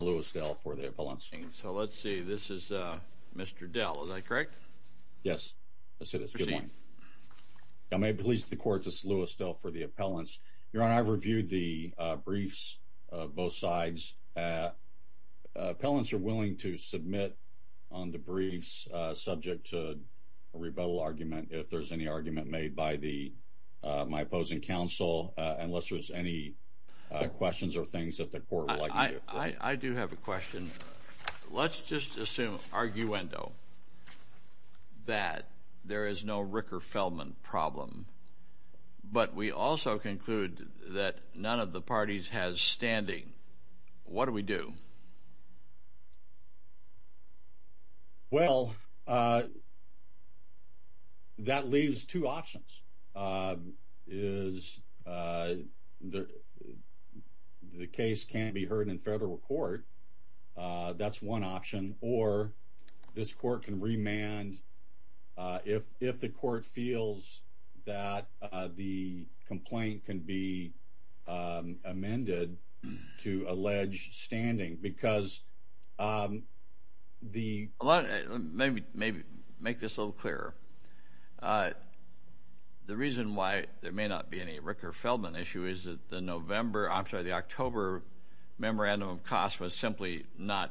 Lewis Dell for the appellants. So let's see. This is Mr. Dell. Is that correct? Yes. I said it's a good one. I may please the court. This is Lewis Dell for the appellants. Your Honor, I've reviewed the briefs of both sides. Appellants are willing to submit on the briefs subject to a rebuttal argument if there's any argument made by my opposing counsel, unless there's any questions or things that the court would like to do. I do have a question. Let's just assume, arguendo, that there is no Ricker-Feldman problem, but we also conclude that none of the parties has standing. What do we do? Well, that leaves two options. The case can't be heard in federal court. That's one option. Or this court can remand if the court feels that the complaint can be amended to allege standing. Let me make this a little clearer. The reason why there may not be any Ricker-Feldman issue is that the October memorandum of cost was simply not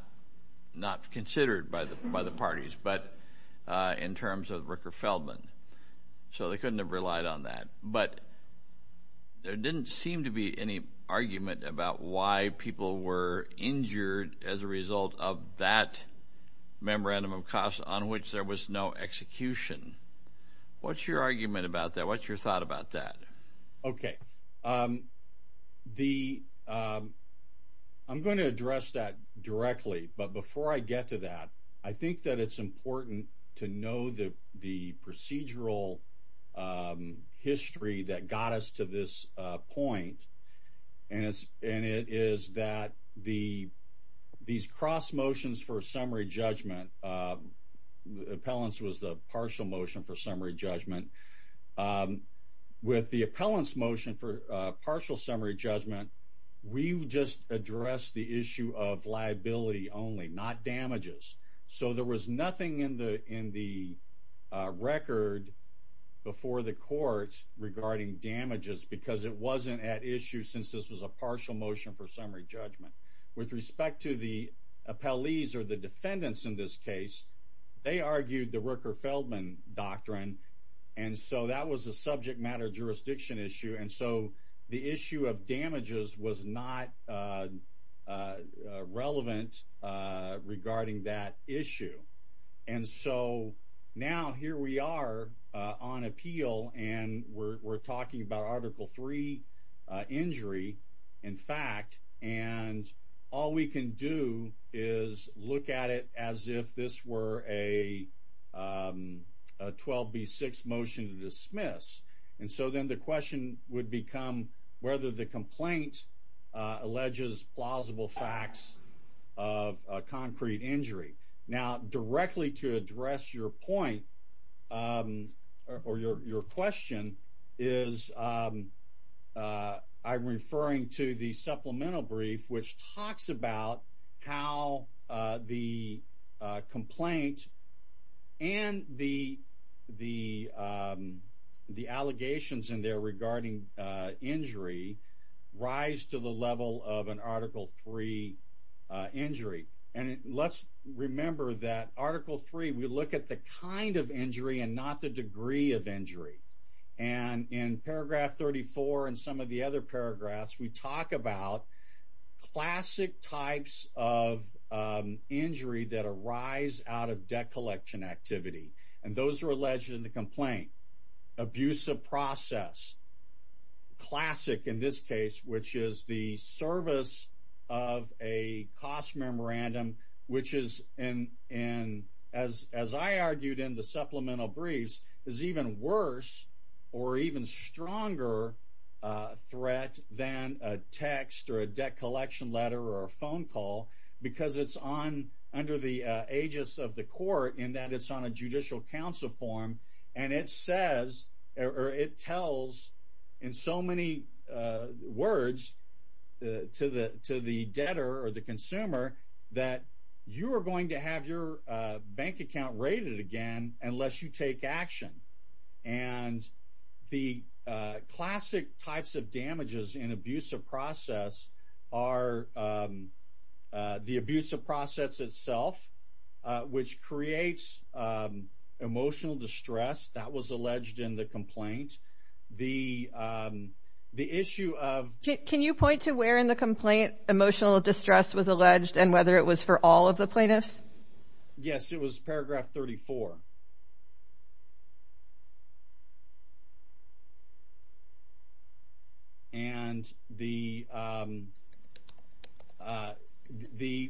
considered by the parties, but in terms of Ricker-Feldman. So they couldn't have relied on that. But there didn't seem to be any argument about why people were injured as a result of that memorandum of cost on which there was no execution. What's your argument about that? What's your thought about that? Okay. I'm going to address that directly, but before I get to that, I think that it's important to know the procedural history that got us to this point. And it is that these cross motions for summary judgment, appellants was the partial motion for summary judgment. With the appellants motion for partial summary judgment, we just addressed the issue of liability only, not in the record before the court regarding damages because it wasn't at issue since this was a partial motion for summary judgment. With respect to the appellees or the defendants in this case, they argued the Ricker-Feldman doctrine. And so that was a subject matter jurisdiction issue. And the issue of damages was not relevant regarding that issue. And so now here we are on appeal, and we're talking about Article III injury, in fact. And all we can do is look at it as if this were a 12B6 motion to dismiss. And so then the question would become whether the complaint alleges plausible facts of a concrete injury. Now, directly to address your point, or your question, is I'm referring to the supplemental brief which talks about how the complaint and the allegations in there regarding injury rise to the level of an Article III injury. And let's remember that Article III, we look at the kind of injury and not the degree of injury. And in paragraph 34 and some of the other paragraphs, we talk about classic types of injury that arise out of debt collection activity. And those are alleged in the complaint. Abusive process, classic in this case, which is the service of a cost memorandum, which is, and as I argued in the supplemental briefs, is even worse or even stronger threat than a text or a debt collection letter or a phone call because it's on under the aegis of the court in that it's on a judicial counsel form. And it says, or it tells in so many words to the debtor or the consumer that you are going to have your bank account raided again unless you take action. And the classic types of damages in abusive process are the abusive process itself, which creates emotional distress that was alleged in the complaint. The issue of... Can you point to where in the complaint emotional distress was alleged and whether it was for all of the plaintiffs? Yes, it was paragraph 34. And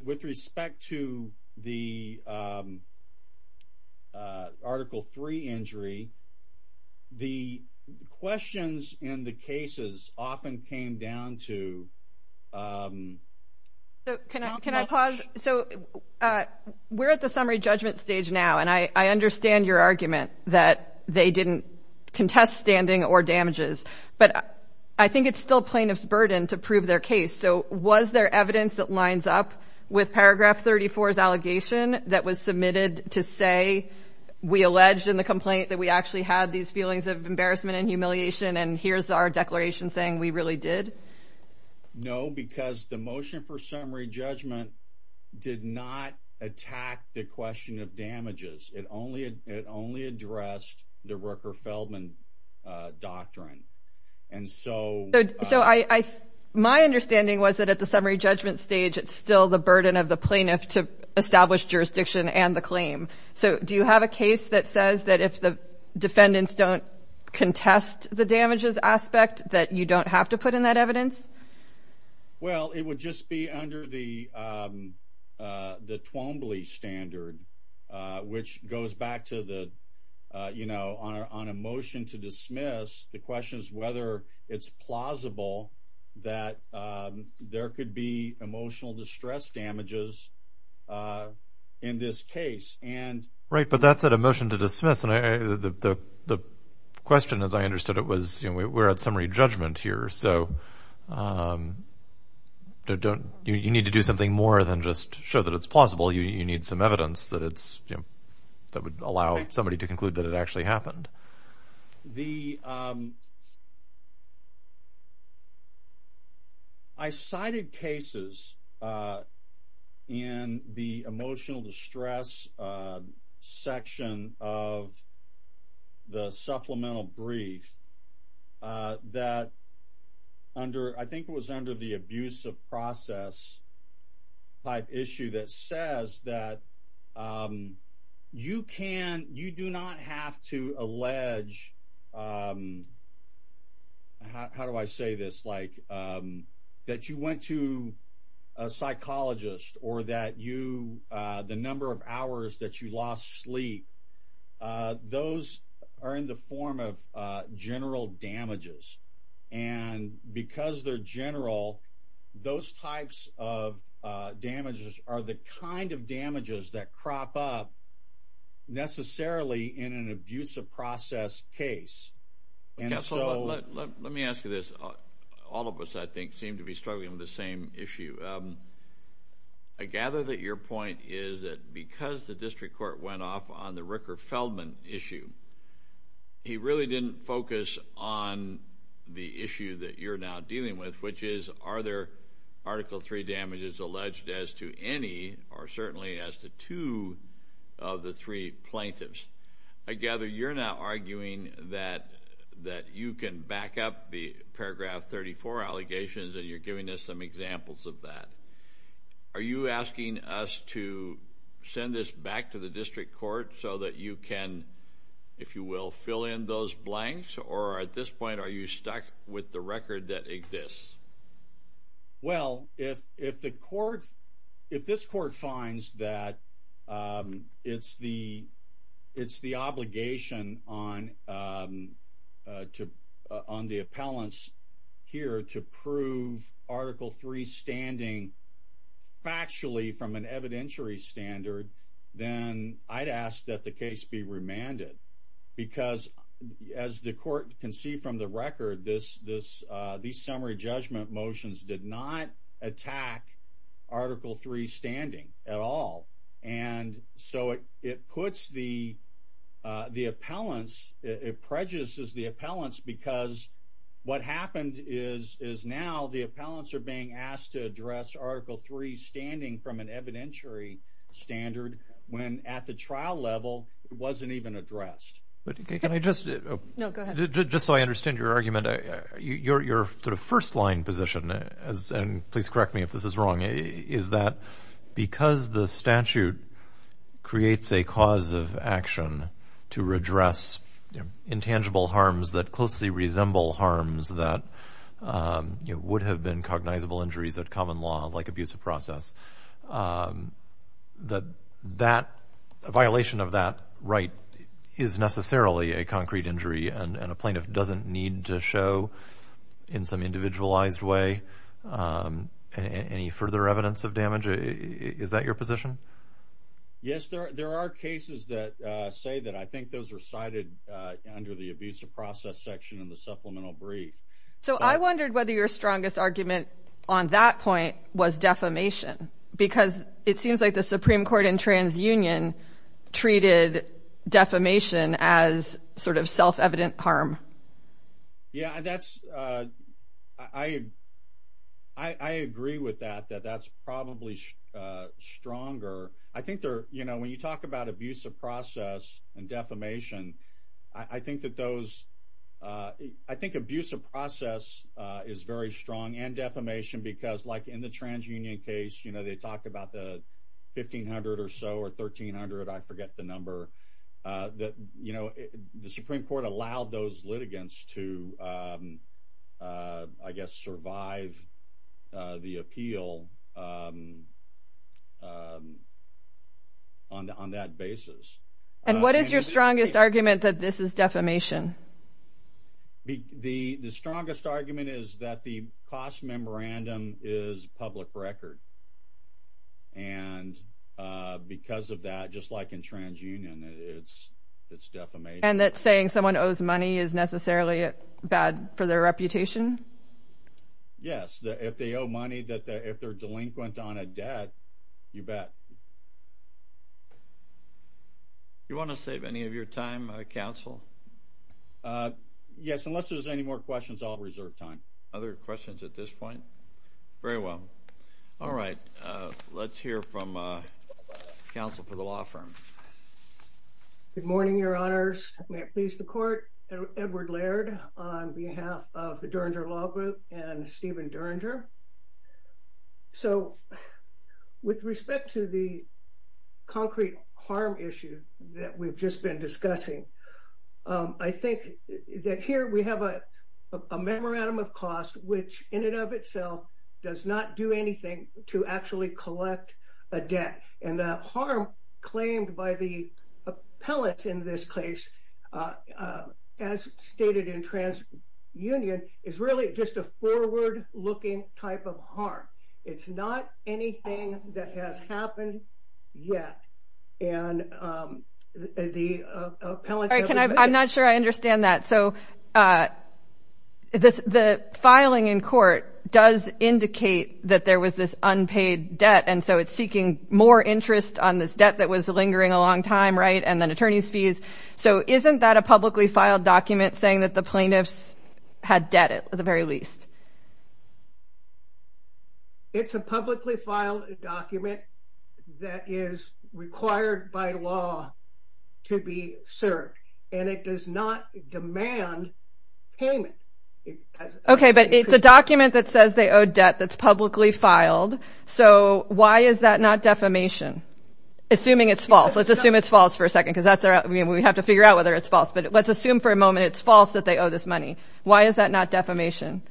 with respect to the questions in the cases often came down to... Can I pause? So we're at the summary judgment stage now, and I understand your argument that they didn't contest standing or damages, but I think it's still plaintiff's burden to prove their case. So was there evidence that lines up with paragraph 34's allegation that was submitted to say we alleged in the complaint that we actually had these feelings of embarrassment and humiliation, and here's our declaration saying we really did? No, because the motion for summary judgment did not attack the question of damages. It only addressed the Rooker-Feldman doctrine. And so... So my understanding was that at the summary judgment stage, it's still the burden of the So do you have a case that says that if the defendants don't contest the damages aspect, that you don't have to put in that evidence? Well, it would just be under the Twombly standard, which goes back to the... On a motion to dismiss, the question is whether it's plausible that there could be emotional distress damages in this case, and... Right, but that's at a motion to dismiss, and the question as I understood it was, we're at summary judgment here, so you need to do something more than just show that it's plausible. You need some evidence that would allow somebody to conclude that it actually happened. The... I cited cases in the emotional distress section of the supplemental brief that under... I think it was under the abuse of process type issue that says that you can... You do not have to allege... How do I say this? Like that you went to a psychologist or that you... The number of hours that you lost sleep, those are in the form of general damages. And because they're general, those types of damages that crop up necessarily in an abuse of process case, and so... Let me ask you this. All of us, I think, seem to be struggling with the same issue. I gather that your point is that because the district court went off on the Ricker-Feldman issue, he really didn't focus on the issue that you're now dealing with, which is, are there Article 3 damages alleged as to any, or certainly as to two of the three plaintiffs? I gather you're now arguing that you can back up the paragraph 34 allegations, and you're giving us some examples of that. Are you asking us to send this back to the district court so that you can, if you will, fill in those blanks? Or at this point, are you stuck with the record that exists? Well, if this court finds that it's the obligation on the appellants here to prove Article 3 standing factually from an evidentiary standard, then I'd ask that the case be remanded. Because as the court can see from the record, these summary judgment motions did not attack Article 3 standing at all. And so it puts the appellants, it prejudices the appellants because what happened is now the appellants are being leveled. It wasn't even addressed. But can I just... No, go ahead. Just so I understand your argument, your first line position, and please correct me if this is wrong, is that because the statute creates a cause of action to redress intangible harms that closely resemble harms that would have been cognizable injuries at common law, like abuse of violation of that right is necessarily a concrete injury and a plaintiff doesn't need to show in some individualized way any further evidence of damage? Is that your position? Yes, there are cases that say that. I think those are cited under the abuse of process section of the supplemental brief. So I wondered whether your strongest argument on that point was defamation, because it seems like the Supreme Court in TransUnion treated defamation as sort of self-evident harm. Yeah, I agree with that, that that's probably stronger. I think when you talk about abuse of process and defamation, I think that those... I think abuse of process is very strong and defamation, because like in the TransUnion case, they talk about the 1500 or so or 1300, I forget the number, that the Supreme Court allowed those litigants to, I guess, survive the appeal on that basis. And what is your strongest argument that this is defamation? The strongest argument is that the cost memorandum is public record. And because of that, just like in TransUnion, it's defamation. And that saying someone owes money is necessarily bad for their reputation? Yes, if they owe money, that if they're delinquent on a debt, you bet. Do you want to save any of your time, counsel? Yes, unless there's any more questions, I'll reserve time. Other questions at this point? Very well. All right, let's hear from counsel for the law firm. Good morning, your honors. May it please the court, Edward Laird on behalf of the Duranger Law Group and Stephen Duranger. So with respect to the concrete harm issue that we've just been discussing, I think that here we have a memorandum of cost, which in and of itself, does not do anything to actually collect a debt. And that harm claimed by the appellate in this case, as stated in TransUnion, is really just a forward-looking type of harm. It's not anything that has happened yet. And the appellate- I'm not sure I understand that. So the filing in court does indicate that there was this unpaid debt. And so it's seeking more interest on this debt that was lingering a long time, right? And then attorney's fees. So isn't that a publicly filed document saying that the plaintiffs had debt, at the very least? It's a publicly filed document that is required by law to be served, and it does not demand payment. Okay, but it's a document that says they owe debt that's publicly filed. So why is that not defamation? Assuming it's false. Let's assume it's false for a second, because we have to figure out whether it's false. But let's assume for a moment it's false that they owe this money. Why is that not defamation?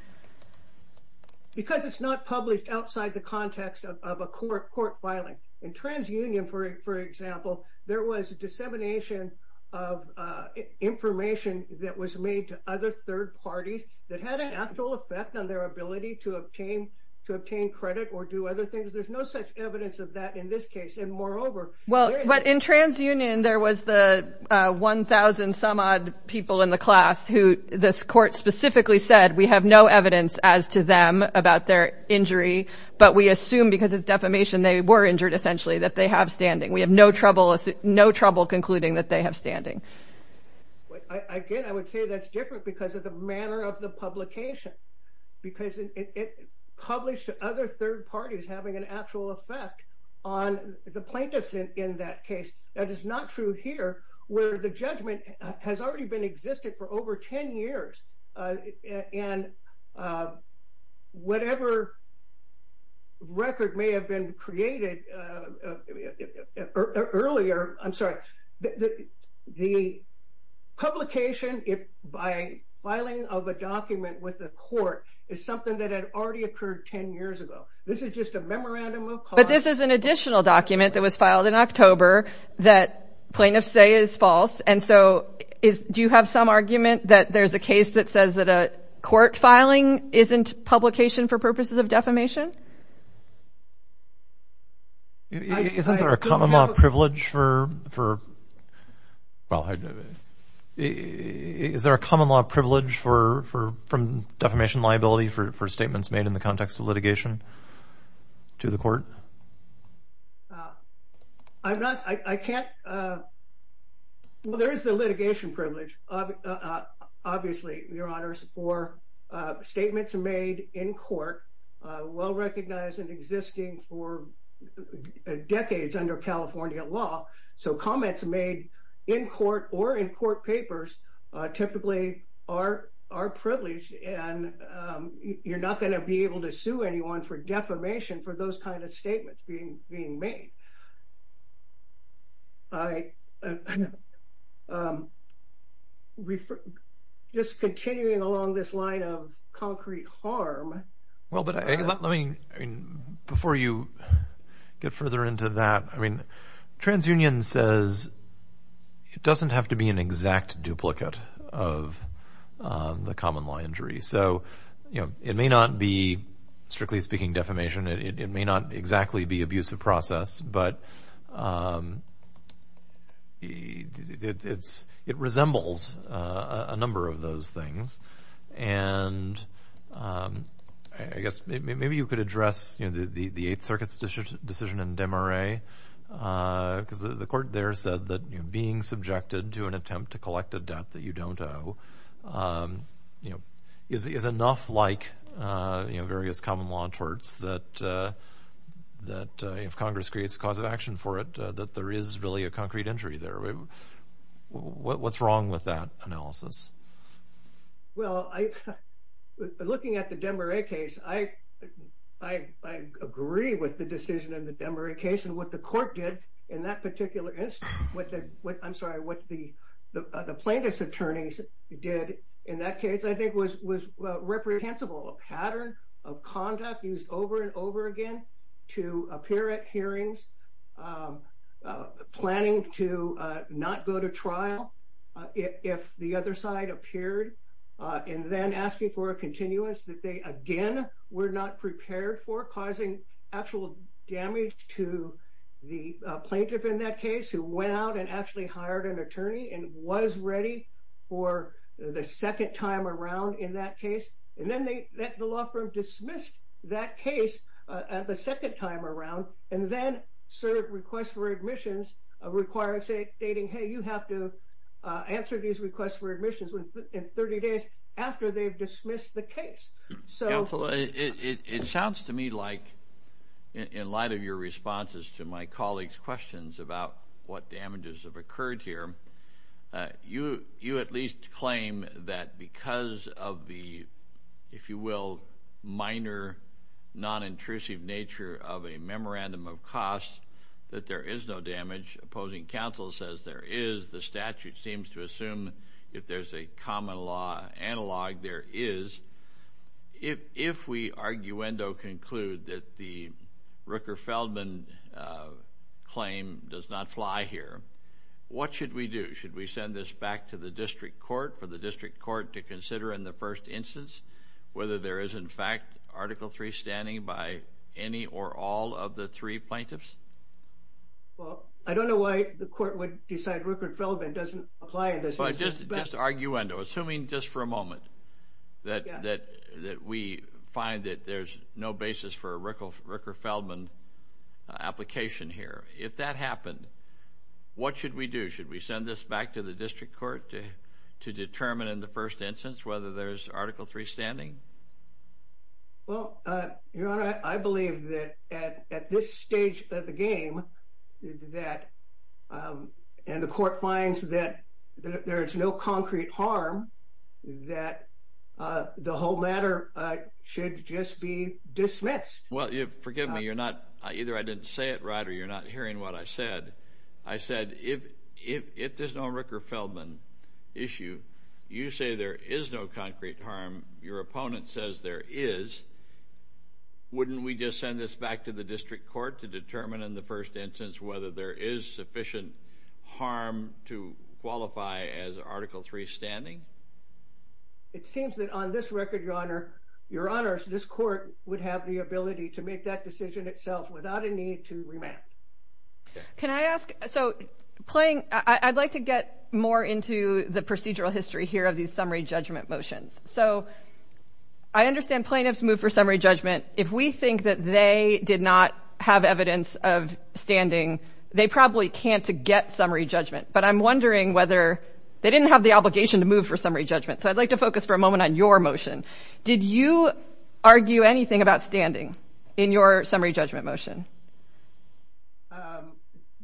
Because it's not published outside the context of a court filing. In TransUnion, for example, there was dissemination of information that was made to other third parties that had an actual effect on their ability to obtain credit or do other things. There's no such evidence of that in this case. And moreover- But in TransUnion, there was the 1,000-some-odd people in the class who this court specifically said, we have no evidence as to them about their injury, but we assume because it's defamation, they were injured, essentially, that they have standing. We have no trouble concluding that they have standing. Again, I would say that's different because of the manner of the publication, because it published to other third parties having an actual effect on the plaintiffs in that case. That is not true here, where the judgment has already been existed for over 10 years. And whatever record may have been created earlier, I'm sorry, the publication by filing of a document with the court is something that had already occurred 10 years ago. This is just a memorandum of- But this is an additional document that was filed in October that plaintiffs say is false. And so, do you have some argument that there's a case that says that a court filing isn't publication for purposes of defamation? Isn't there a common law privilege for- defamation liability for statements made in the context of litigation to the court? I'm not- I can't- Well, there is the litigation privilege, obviously, Your Honors, for statements made in court, well-recognized and existing for decades under California law. So, comments made in court or in court papers typically are privileged and you're not going to be able to sue anyone for defamation for those kind of statements being made. Just continuing along this line of concrete harm- The opinion says it doesn't have to be an exact duplicate of the common law injury. So, it may not be, strictly speaking, defamation. It may not exactly be abusive process, but it resembles a number of those things. And I guess maybe you could address the Eighth Circuit's decision in Desmarais, because the court there said that being subjected to an attempt to collect a debt that you don't owe is enough like various common law torts that if Congress creates a cause of action for it, that there is really a concrete injury there. What's wrong with that analysis? Well, looking at the Desmarais case, I agree with the decision in the Desmarais case and what the court did in that particular instance. I'm sorry, what the plaintiff's attorneys did in that case, I think, was reprehensible. A pattern of conduct used over and over again to appear at hearings, planning to not go to trial if the other side appeared, and then asking for a continuous that they, again, were not prepared for, causing actual damage to the plaintiff in that case, who went out and actually hired an attorney and was ready for the second time around in that case. And then the law firm dismissed that case the second time around and then served requests for admissions, requiring, stating, hey, you have to answer these requests for admissions in 30 days after they've dismissed the case. Counselor, it sounds to me like, in light of your responses to my colleagues' questions about what damages have occurred here, you at least claim that because of the, if you will, minor, non-intrusive nature of a memorandum of costs, that there is no damage. Opposing counsel says there is. The statute seems to assume if there's a common law analog, there is. If we arguendo conclude that the Rooker-Feldman claim does not fly here, what should we do? Should we send this back to the district court for the district court to consider in the first instance whether there is, in fact, Article III standing by any or all of the three plaintiffs? Well, I don't know why the court would decide Rooker-Feldman doesn't apply in this instance. But just arguendo, assuming just for a application here, if that happened, what should we do? Should we send this back to the district court to determine in the first instance whether there's Article III standing? Well, Your Honor, I believe that at this stage of the game, that, and the court finds that there is no concrete harm, that the whole matter should just be dismissed. Well, forgive me, you're not, either I didn't say it right or you're not hearing what I said. I said, if there's no Rooker-Feldman issue, you say there is no concrete harm, your opponent says there is, wouldn't we just send this back to the district court to determine in the first instance whether there is sufficient harm to qualify as Article III standing? It seems that on this record, Your Honor, Your Honors, this court would have the ability to make that decision itself without a need to remand. Can I ask, so playing, I'd like to get more into the procedural history here of these summary judgment motions. So I understand plaintiffs move for summary judgment. If we think that they did not have evidence of standing, they probably can't get summary judgment. But I'm wondering whether they didn't have the obligation to move for summary judgment. So I'd like to focus for a moment on your motion. Did you argue anything about standing in your summary judgment motion?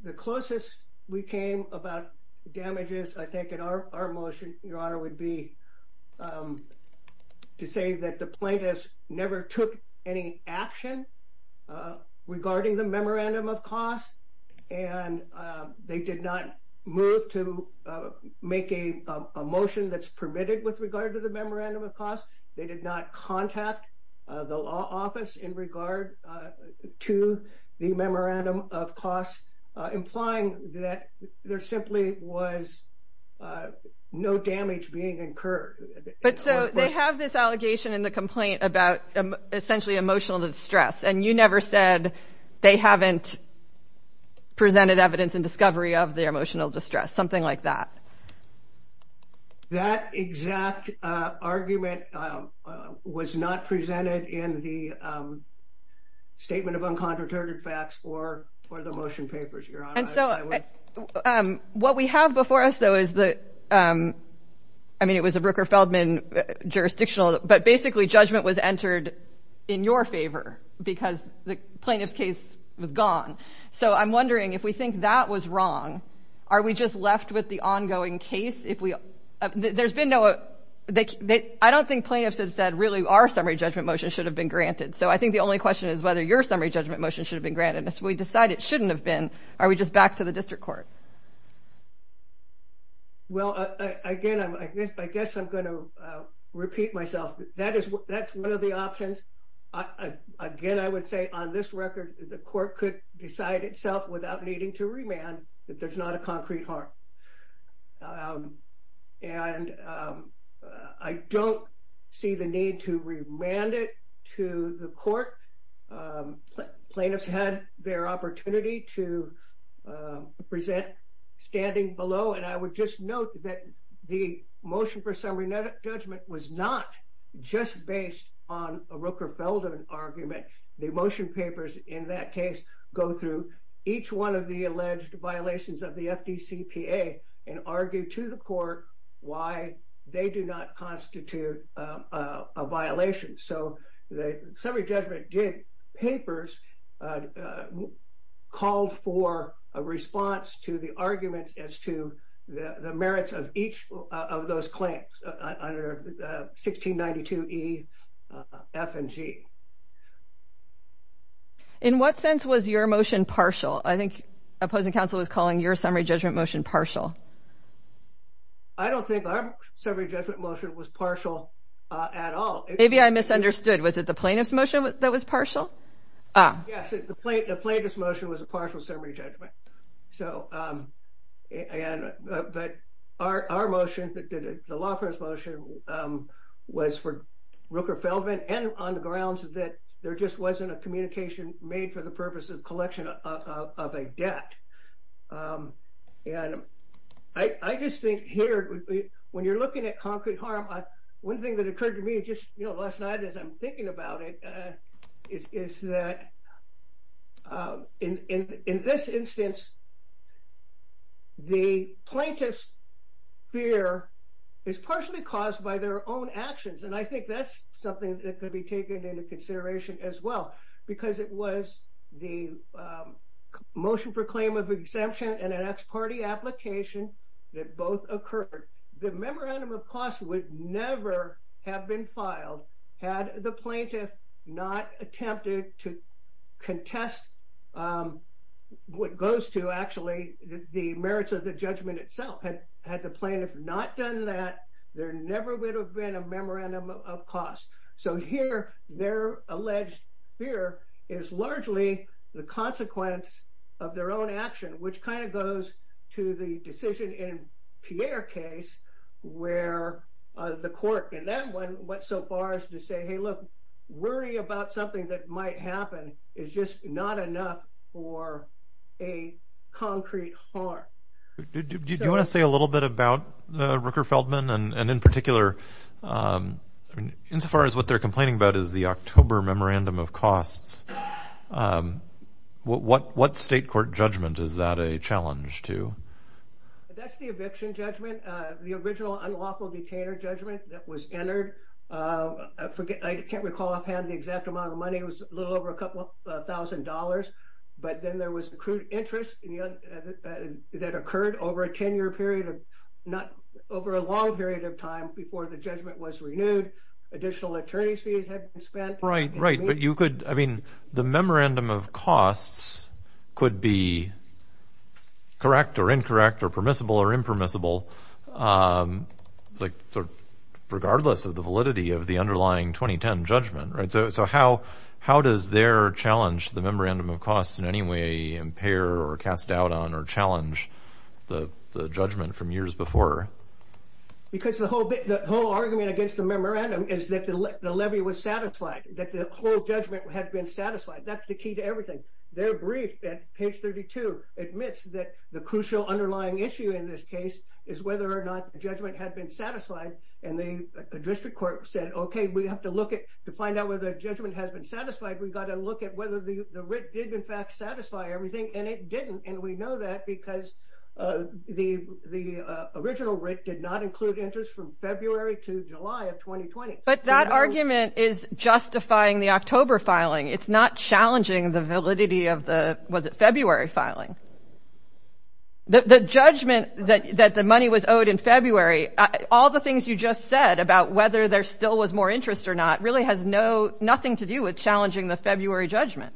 The closest we came about damages, I think, in our motion, Your Honor, would be to say that the plaintiffs never took any action regarding the memorandum of cost. They did not contact the law office in regard to the memorandum of cost, implying that there simply was no damage being incurred. But so they have this allegation in the complaint about essentially emotional distress, and you never said they haven't presented evidence and discovery of their emotional distress, something like that. That exact argument was not presented in the statement of uncontroverted facts for the motion papers, Your Honor. And so what we have before us, though, is the, I mean, it was a Brooker-Feldman jurisdictional, but basically judgment was entered in your favor because the plaintiff's case was if we, there's been no, I don't think plaintiffs have said really our summary judgment motion should have been granted. So I think the only question is whether your summary judgment motion should have been granted. If we decide it shouldn't have been, are we just back to the district court? Well, again, I guess I'm going to repeat myself. That is, that's one of the options. Again, I would say on this record, the court could decide itself without needing to remand that there's not a motion for summary judgment. And I don't see the need to remand it to the court. Plaintiffs had their opportunity to present standing below. And I would just note that the motion for summary judgment was not just based on a Rooker-Feldman argument. The emotion papers in that case go through each one of the alleged violations of the FDCPA and argue to the court why they do not constitute a violation. So the summary judgment papers called for a response to the argument as the merits of each of those claims under 1692 E, F and G. In what sense was your motion partial? I think opposing counsel was calling your summary judgment motion partial. I don't think our summary judgment motion was partial at all. Maybe I misunderstood. Was it the plaintiff's motion that was partial? Yes, the plaintiff's motion was a partial summary judgment. But our motion, the law firm's motion, was for Rooker-Feldman and on the grounds that there just wasn't a communication made for the purpose of collection of a debt. And I just think here, when you're looking at concrete harm, one thing that occurred to me just, you know, last I'm thinking about it, is that in this instance, the plaintiff's fear is partially caused by their own actions. And I think that's something that could be taken into consideration as well, because it was the motion for claim of exemption and an ex parte application that both occurred. The plaintiff not attempted to contest what goes to actually the merits of the judgment itself. Had the plaintiff not done that, there never would have been a memorandum of cost. So here, their alleged fear is largely the consequence of their own action, which kind of goes to the decision in the court. And that went so far as to say, hey, look, worry about something that might happen is just not enough for a concrete harm. Do you want to say a little bit about the Rooker-Feldman and in particular, insofar as what they're complaining about is the October memorandum of costs, what state court judgment is that a challenge to? That's the eviction judgment. The original unlawful detainer judgment that was entered, I can't recall offhand the exact amount of money. It was a little over a couple of thousand dollars. But then there was a crude interest that occurred over a 10 year period of not over a long period of time before the judgment was renewed. Additional attorney's fees had been spent. Right, right. But you could, I mean, the memorandum of costs could be correct or incorrect or permissible or impermissible. Um, like regardless of the validity of the underlying 2010 judgment, right? So how, how does their challenge the memorandum of costs in any way impair or cast doubt on or challenge the judgment from years before? Because the whole bit, the whole argument against the memorandum is that the levy was satisfied, that the whole judgment had been satisfied. That's the key to everything. Their brief at page 32 admits that the crucial underlying issue in this case is whether or not the judgment had been satisfied. And the district court said, okay, we have to look at, to find out whether the judgment has been satisfied, we've got to look at whether the writ did in fact satisfy everything. And it didn't. And we know that because, uh, the, the, uh, original writ did not include interest from February to July of 2020. But that argument is justifying the October filing. It's not February. All the things you just said about whether there still was more interest or not really has no, nothing to do with challenging the February judgment.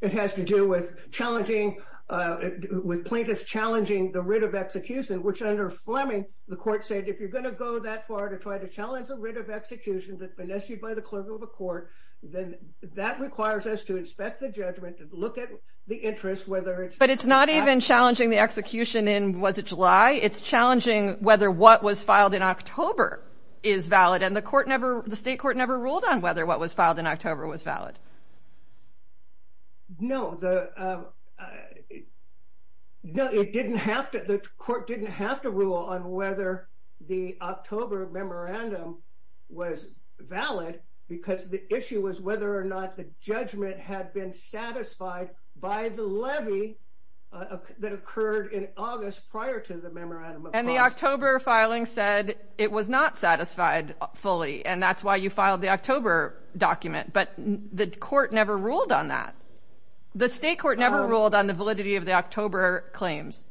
It has to do with challenging, uh, with plaintiffs, challenging the writ of execution, which under Fleming, the court said, if you're going to go that far to try to challenge the writ of execution that's been issued by the clerk of the court, then that requires us to inspect the judgment and look at the interest, whether it's, but it's not even challenging the July. It's challenging whether what was filed in October is valid. And the court never, the state court never ruled on whether what was filed in October was valid. No, the, uh, no, it didn't have to, the court didn't have to rule on whether the October memorandum was valid because the issue was whether or not the judgment had been satisfied by the levy that occurred in August prior to the memorandum. And the October filing said it was not satisfied fully. And that's why you filed the October document. But the court never ruled on that. The state court never ruled on the validity of the October claims.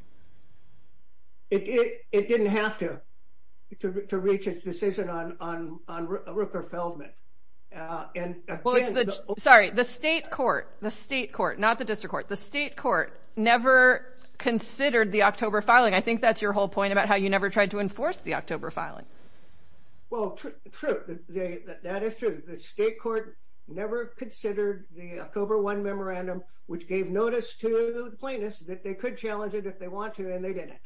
It, it, it didn't have to, to, to reach a decision on, on, on Rupert Feldman. Uh, and sorry, the state court, the state court, not the district court, the state court never considered the October filing. I think that's your whole point about how you never tried to enforce the October filing. Well, true. That is true. The state court never considered the October one memorandum, which gave notice to the plaintiffs that they could challenge it if they want to, and they didn't.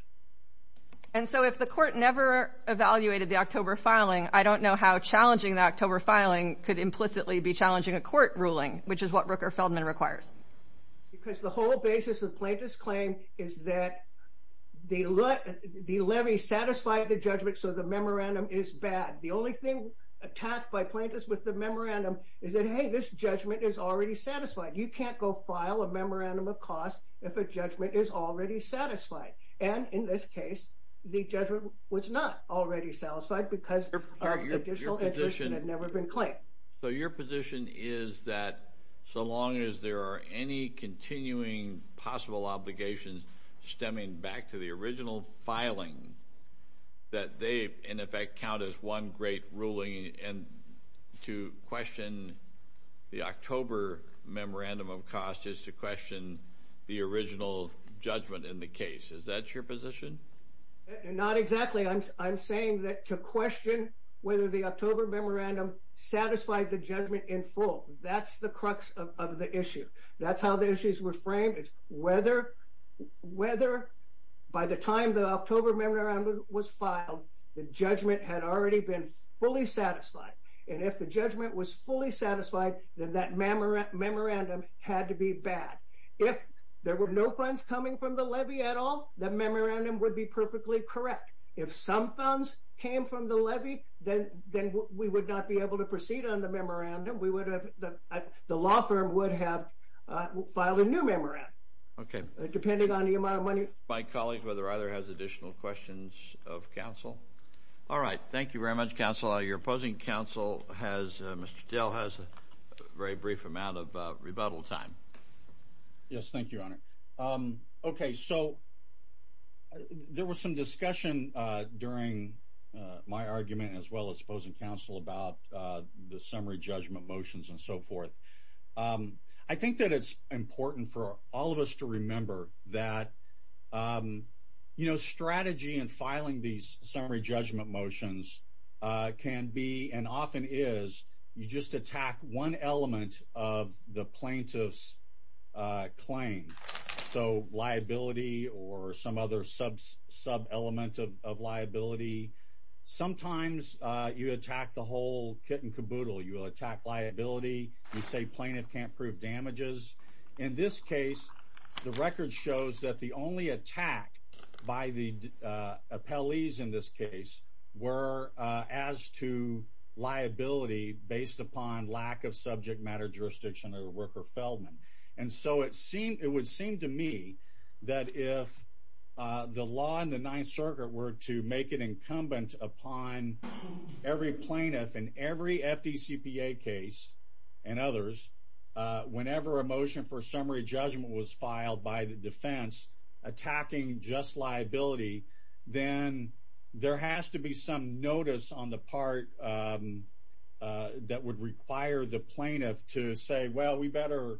And so if the court never evaluated the October filing, I don't know how challenging the October filing could implicitly be challenging a court ruling, which is what Rupert Feldman requires. Because the whole basis of plaintiff's claim is that they let, the levy satisfied the judgment, so the memorandum is bad. The only thing attacked by plaintiffs with the memorandum is that, hey, this judgment is already satisfied. You can't go file a memorandum of cost if a judgment is already satisfied. And in this case, the judgment was not already satisfied because the additional education had never been claimed. So your position is that so long as there are any continuing possible obligations stemming back to the original filing, that they in effect count as one great ruling, and to question the October memorandum of cost is to question the original judgment in the case. Is that your position? Not exactly. I'm saying that to question whether the October memorandum satisfied the judgment in full, that's the crux of the issue. That's how the issues were framed. Whether by the time the October memorandum was filed, the judgment had already been fully satisfied. And if the judgment was fully satisfied, then that memorandum had to be bad. If there were no funds coming from the levy, then that would be perfectly correct. If some funds came from the levy, then we would not be able to proceed on the memorandum. The law firm would have filed a new memorandum, depending on the amount of money. My colleague, whether either has additional questions of counsel. All right. Thank you very much, counsel. Your opposing counsel, Mr. Dale, has a very brief amount of discussion during my argument as well as opposing counsel about the summary judgment motions and so forth. I think that it's important for all of us to remember that strategy and filing these summary judgment motions can be, and often is, you just attack one element of the plaintiff's claim. So liability or some other sub element of liability. Sometimes you attack the whole kit and caboodle. You will attack liability. You say plaintiff can't prove damages. In this case, the record shows that the only attack by the appellees in this case were as to liability based upon lack of subject matter jurisdiction or worker Feldman. And so it would seem to me that if the law in the Ninth Circuit were to make it incumbent upon every plaintiff in every FDCPA case and others, whenever a motion for summary judgment was filed by the defense attacking just that would require the plaintiff to say, Well, we better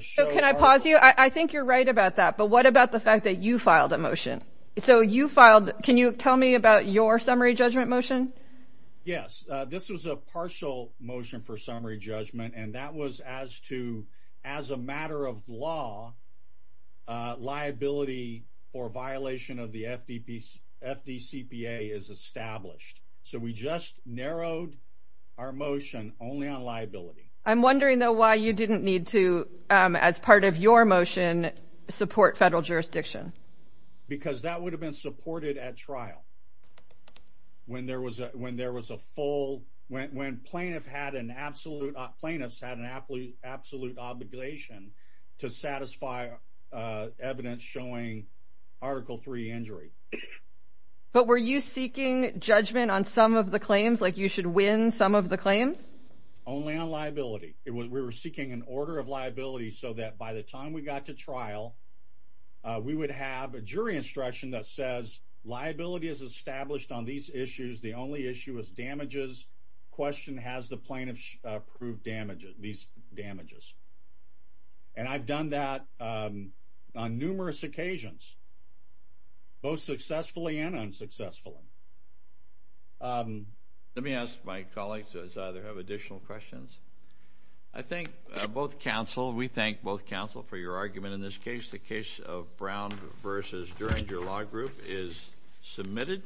show. Can I pause you? I think you're right about that. But what about the fact that you filed a motion? So you filed? Can you tell me about your summary judgment motion? Yes, this was a partial motion for summary judgment. And that was as to as a matter of law liability for violation of the FDCPA is established. So we just narrowed our motion only on liability. I'm wondering, though, why you didn't need to, as part of your motion, support federal jurisdiction, because that would have been supported at trial. When there was a when there was a full went when plaintiff had an absolute plaintiffs had an athlete absolute obligation to satisfy evidence showing Article three injury. But were you seeking judgment on some of the claims like you should win some of the claims only on liability? It was we were seeking an order of liability so that by the time we got to trial, we would have a jury instruction that says liability is established on these issues. The only issue is damages. Question has the plaintiff prove damages these damages. And I've done that on numerous occasions, both successfully and unsuccessfully. Let me ask my colleagues as either have additional questions. I think both counsel. We thank both counsel for your argument. In this case, the case of Brown versus during your law group is submitted.